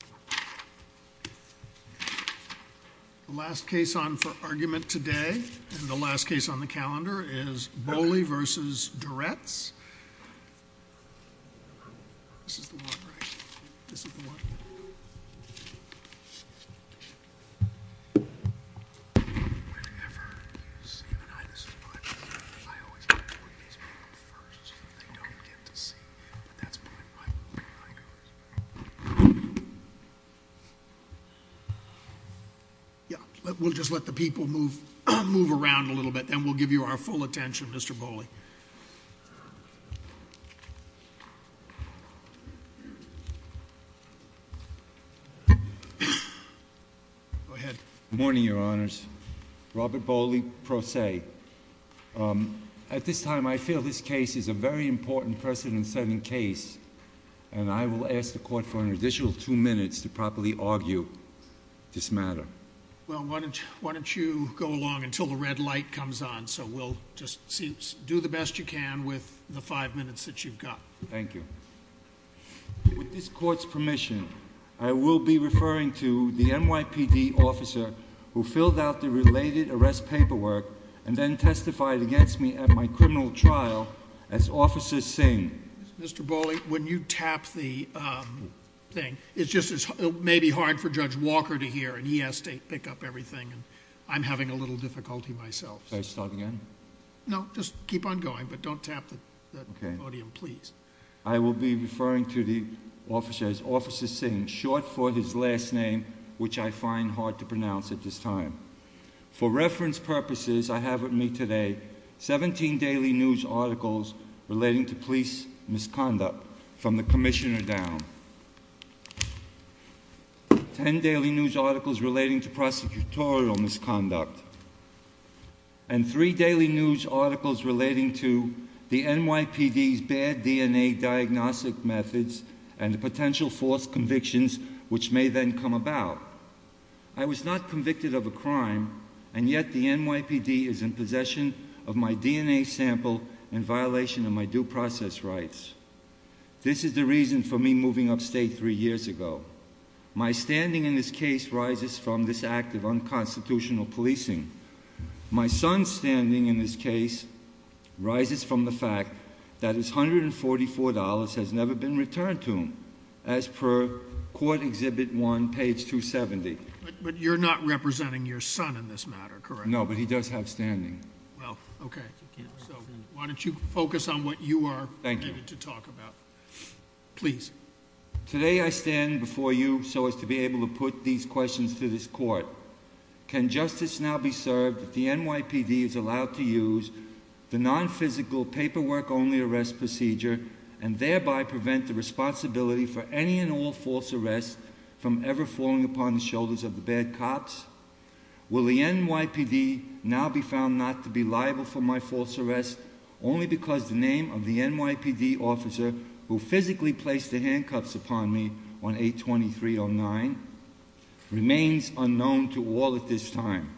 The last case on for argument today and the last case on the calendar is Boley v. Durets. We'll just let the people move around a little bit, then we'll give you our full attention, Mr. Boley. Good morning, Your Honors. Robert Boley, pro se. At this time, I feel this case is a very important precedent-setting case, and I will ask the Court for an additional two minutes to properly argue this matter. Well, why don't you go along until the red light comes on, so we'll just do the best you can with the five minutes that you've got. Thank you. With this Court's permission, I will be referring to the NYPD officer who filled out the related arrest paperwork and then testified against me at my criminal trial as Officer Singh. Mr. Boley, when you tap the thing, it may be hard for Judge Walker to hear, and he has to pick up everything, and I'm having a little difficulty myself. Can I start again? No, just keep on going, but don't tap the podium, please. I will be referring to the officer as Officer Singh, short for his last name, which I find hard to pronounce at this time. For reference purposes, I have with me today 17 daily news articles relating to police misconduct from the Commissioner down, 10 daily news articles relating to prosecutorial misconduct, and 3 daily news articles relating to the NYPD's bad DNA diagnostic methods and the potential false convictions which may then come about. I was not convicted of a crime, and yet the NYPD is in possession of my DNA sample in violation of my due process rights. This is the reason for me moving upstate three years ago. My standing in this case rises from this act of unconstitutional policing. My son's standing in this case rises from the fact that his $144 has never been returned to him, as per Court Exhibit 1, page 270. But you're not representing your son in this matter, correct? No, but he does have standing. Well, okay. So why don't you focus on what you are permitted to talk about. Thank you. Please. Today I stand before you so as to be able to put these questions to this court. Can justice now be served if the NYPD is allowed to use the non-physical paperwork-only arrest procedure and thereby prevent the responsibility for any and all false arrests from ever falling upon the shoulders of the bad cops? Will the NYPD now be found not to be liable for my false arrest only because the name of the NYPD officer who physically placed the handcuffs upon me on 8-23-09 remains unknown to all at this time?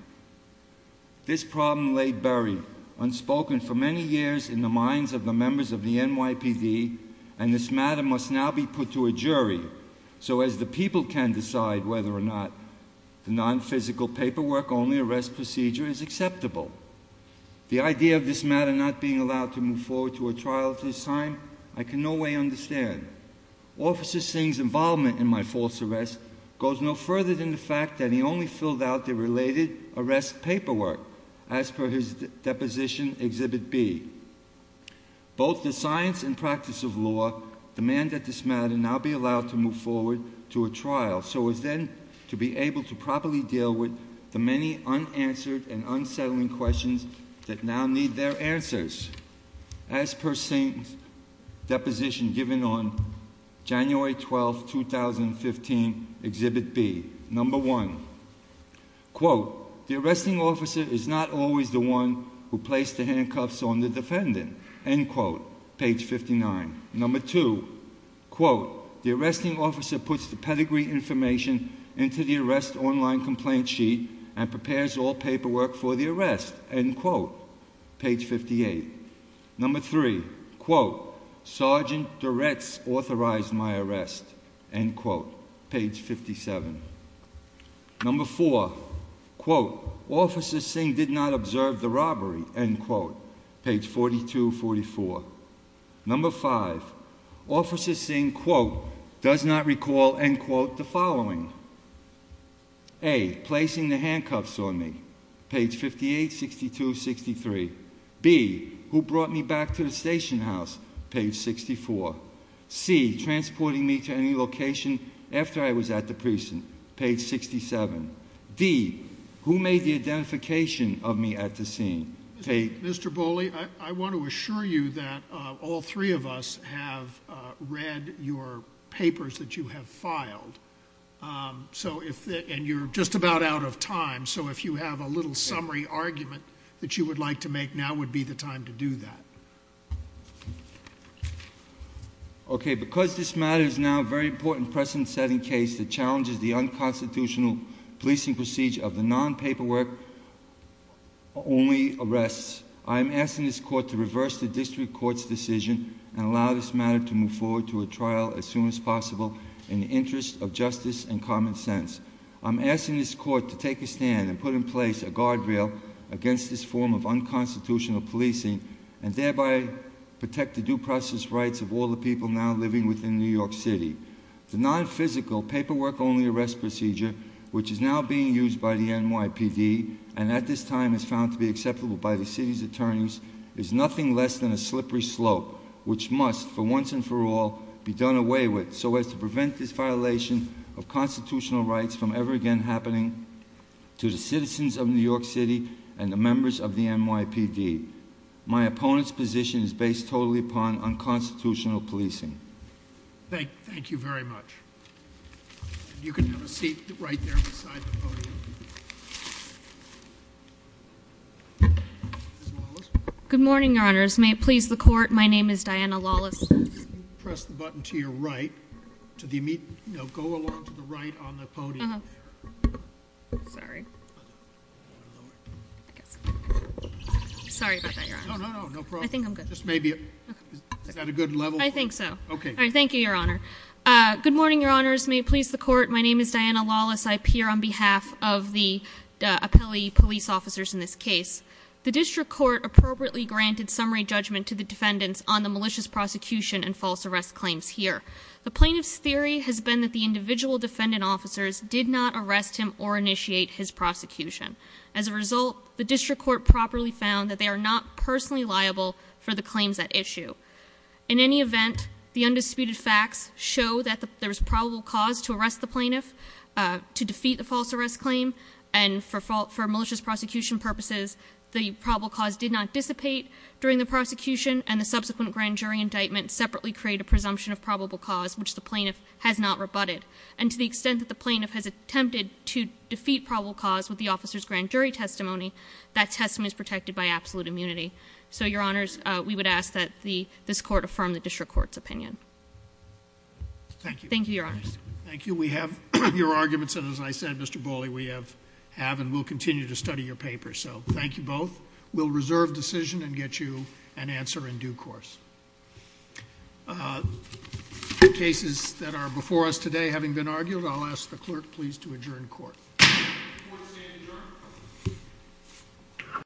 This problem laid buried, unspoken for many years in the minds of the members of the NYPD, and this matter must now be put to a jury so as the people can decide whether or not the non-physical paperwork-only arrest procedure is acceptable. The idea of this matter not being allowed to move forward to a trial at this time, I can no way understand. Officer Singh's involvement in my false arrest goes no further than the fact that he only filled out the related arrest paperwork, as per his deposition, Exhibit B. Both the science and practice of law demand that this matter now be allowed to move forward to a trial so as then to be able to properly deal with the many unanswered and unsettling questions that now need their answers, as per Singh's deposition given on January 12, 2015, Exhibit B. Number one, quote, the arresting officer is not always the one who placed the handcuffs on the defendant, end quote, page 59. Number two, quote, the arresting officer puts the pedigree information into the arrest online complaint sheet and prepares all paperwork for the arrest, end quote, page 58. Number three, quote, Sergeant Duretz authorized my arrest, end quote, page 57. Number four, quote, Officer Singh did not observe the robbery, end quote, page 4244. Number five, Officer Singh, quote, does not recall, end quote, the following. A, placing the handcuffs on me, page 58, 62, 63. B, who brought me back to the station house, page 64. C, transporting me to any location after I was at the precinct, page 67. D, who made the identification of me at the scene. Mr. Bolli, I want to assure you that all three of us have read your papers that you have filed. And you're just about out of time, so if you have a little summary argument that you would like to make, now would be the time to do that. Okay, because this matter is now a very important precedent-setting case that challenges the unconstitutional policing procedure of the non-paperwork, only arrests, I'm asking this court to reverse the district court's decision and allow this matter to move forward to a trial as soon as possible in the interest of justice and common sense. I'm asking this court to take a stand and put in place a guardrail against this form of unconstitutional policing and thereby protect the due process rights of all the people now living within New York City. The non-physical paperwork only arrest procedure, which is now being used by the NYPD, and at this time is found to be acceptable by the city's attorneys, is nothing less than a slippery slope, which must, for once and for all, be done away with so as to prevent this violation of constitutional rights from ever again happening. To the citizens of New York City and the members of the NYPD, my opponent's position is based totally upon unconstitutional policing. Thank you very much. You can have a seat right there beside the podium. Good morning, Your Honors. May it please the court, my name is Diana Lawless. Press the button to your right. Go along to the right on the podium. Sorry. Sorry about that, Your Honor. No, no, no, no problem. I think I'm good. Is that a good level? I think so. All right, thank you, Your Honor. Good morning, Your Honors. May it please the court, my name is Diana Lawless. I appear on behalf of the appellee police officers in this case. The district court appropriately granted summary judgment to the defendants on the malicious prosecution and false arrest claims here. The plaintiff's theory has been that the individual defendant officers did not arrest him or initiate his prosecution. As a result, the district court properly found that they are not personally liable for the claims at issue. In any event, the undisputed facts show that there's probable cause to arrest the plaintiff to defeat the false arrest claim. And for malicious prosecution purposes, the probable cause did not dissipate during the prosecution and the subsequent grand jury indictment separately create a presumption of probable cause, which the plaintiff has not rebutted. And to the extent that the plaintiff has attempted to defeat probable cause with the officer's grand jury testimony, that testimony is protected by absolute immunity. So, Your Honors, we would ask that this court affirm the district court's opinion. Thank you. Thank you, Your Honors. Thank you. We have your arguments. And as I said, Mr. Boley, we have and will continue to study your paper. So, thank you both. We'll reserve decision and get you an answer in due course. Cases that are before us today having been argued, I'll ask the clerk please to adjourn court. Court is adjourned.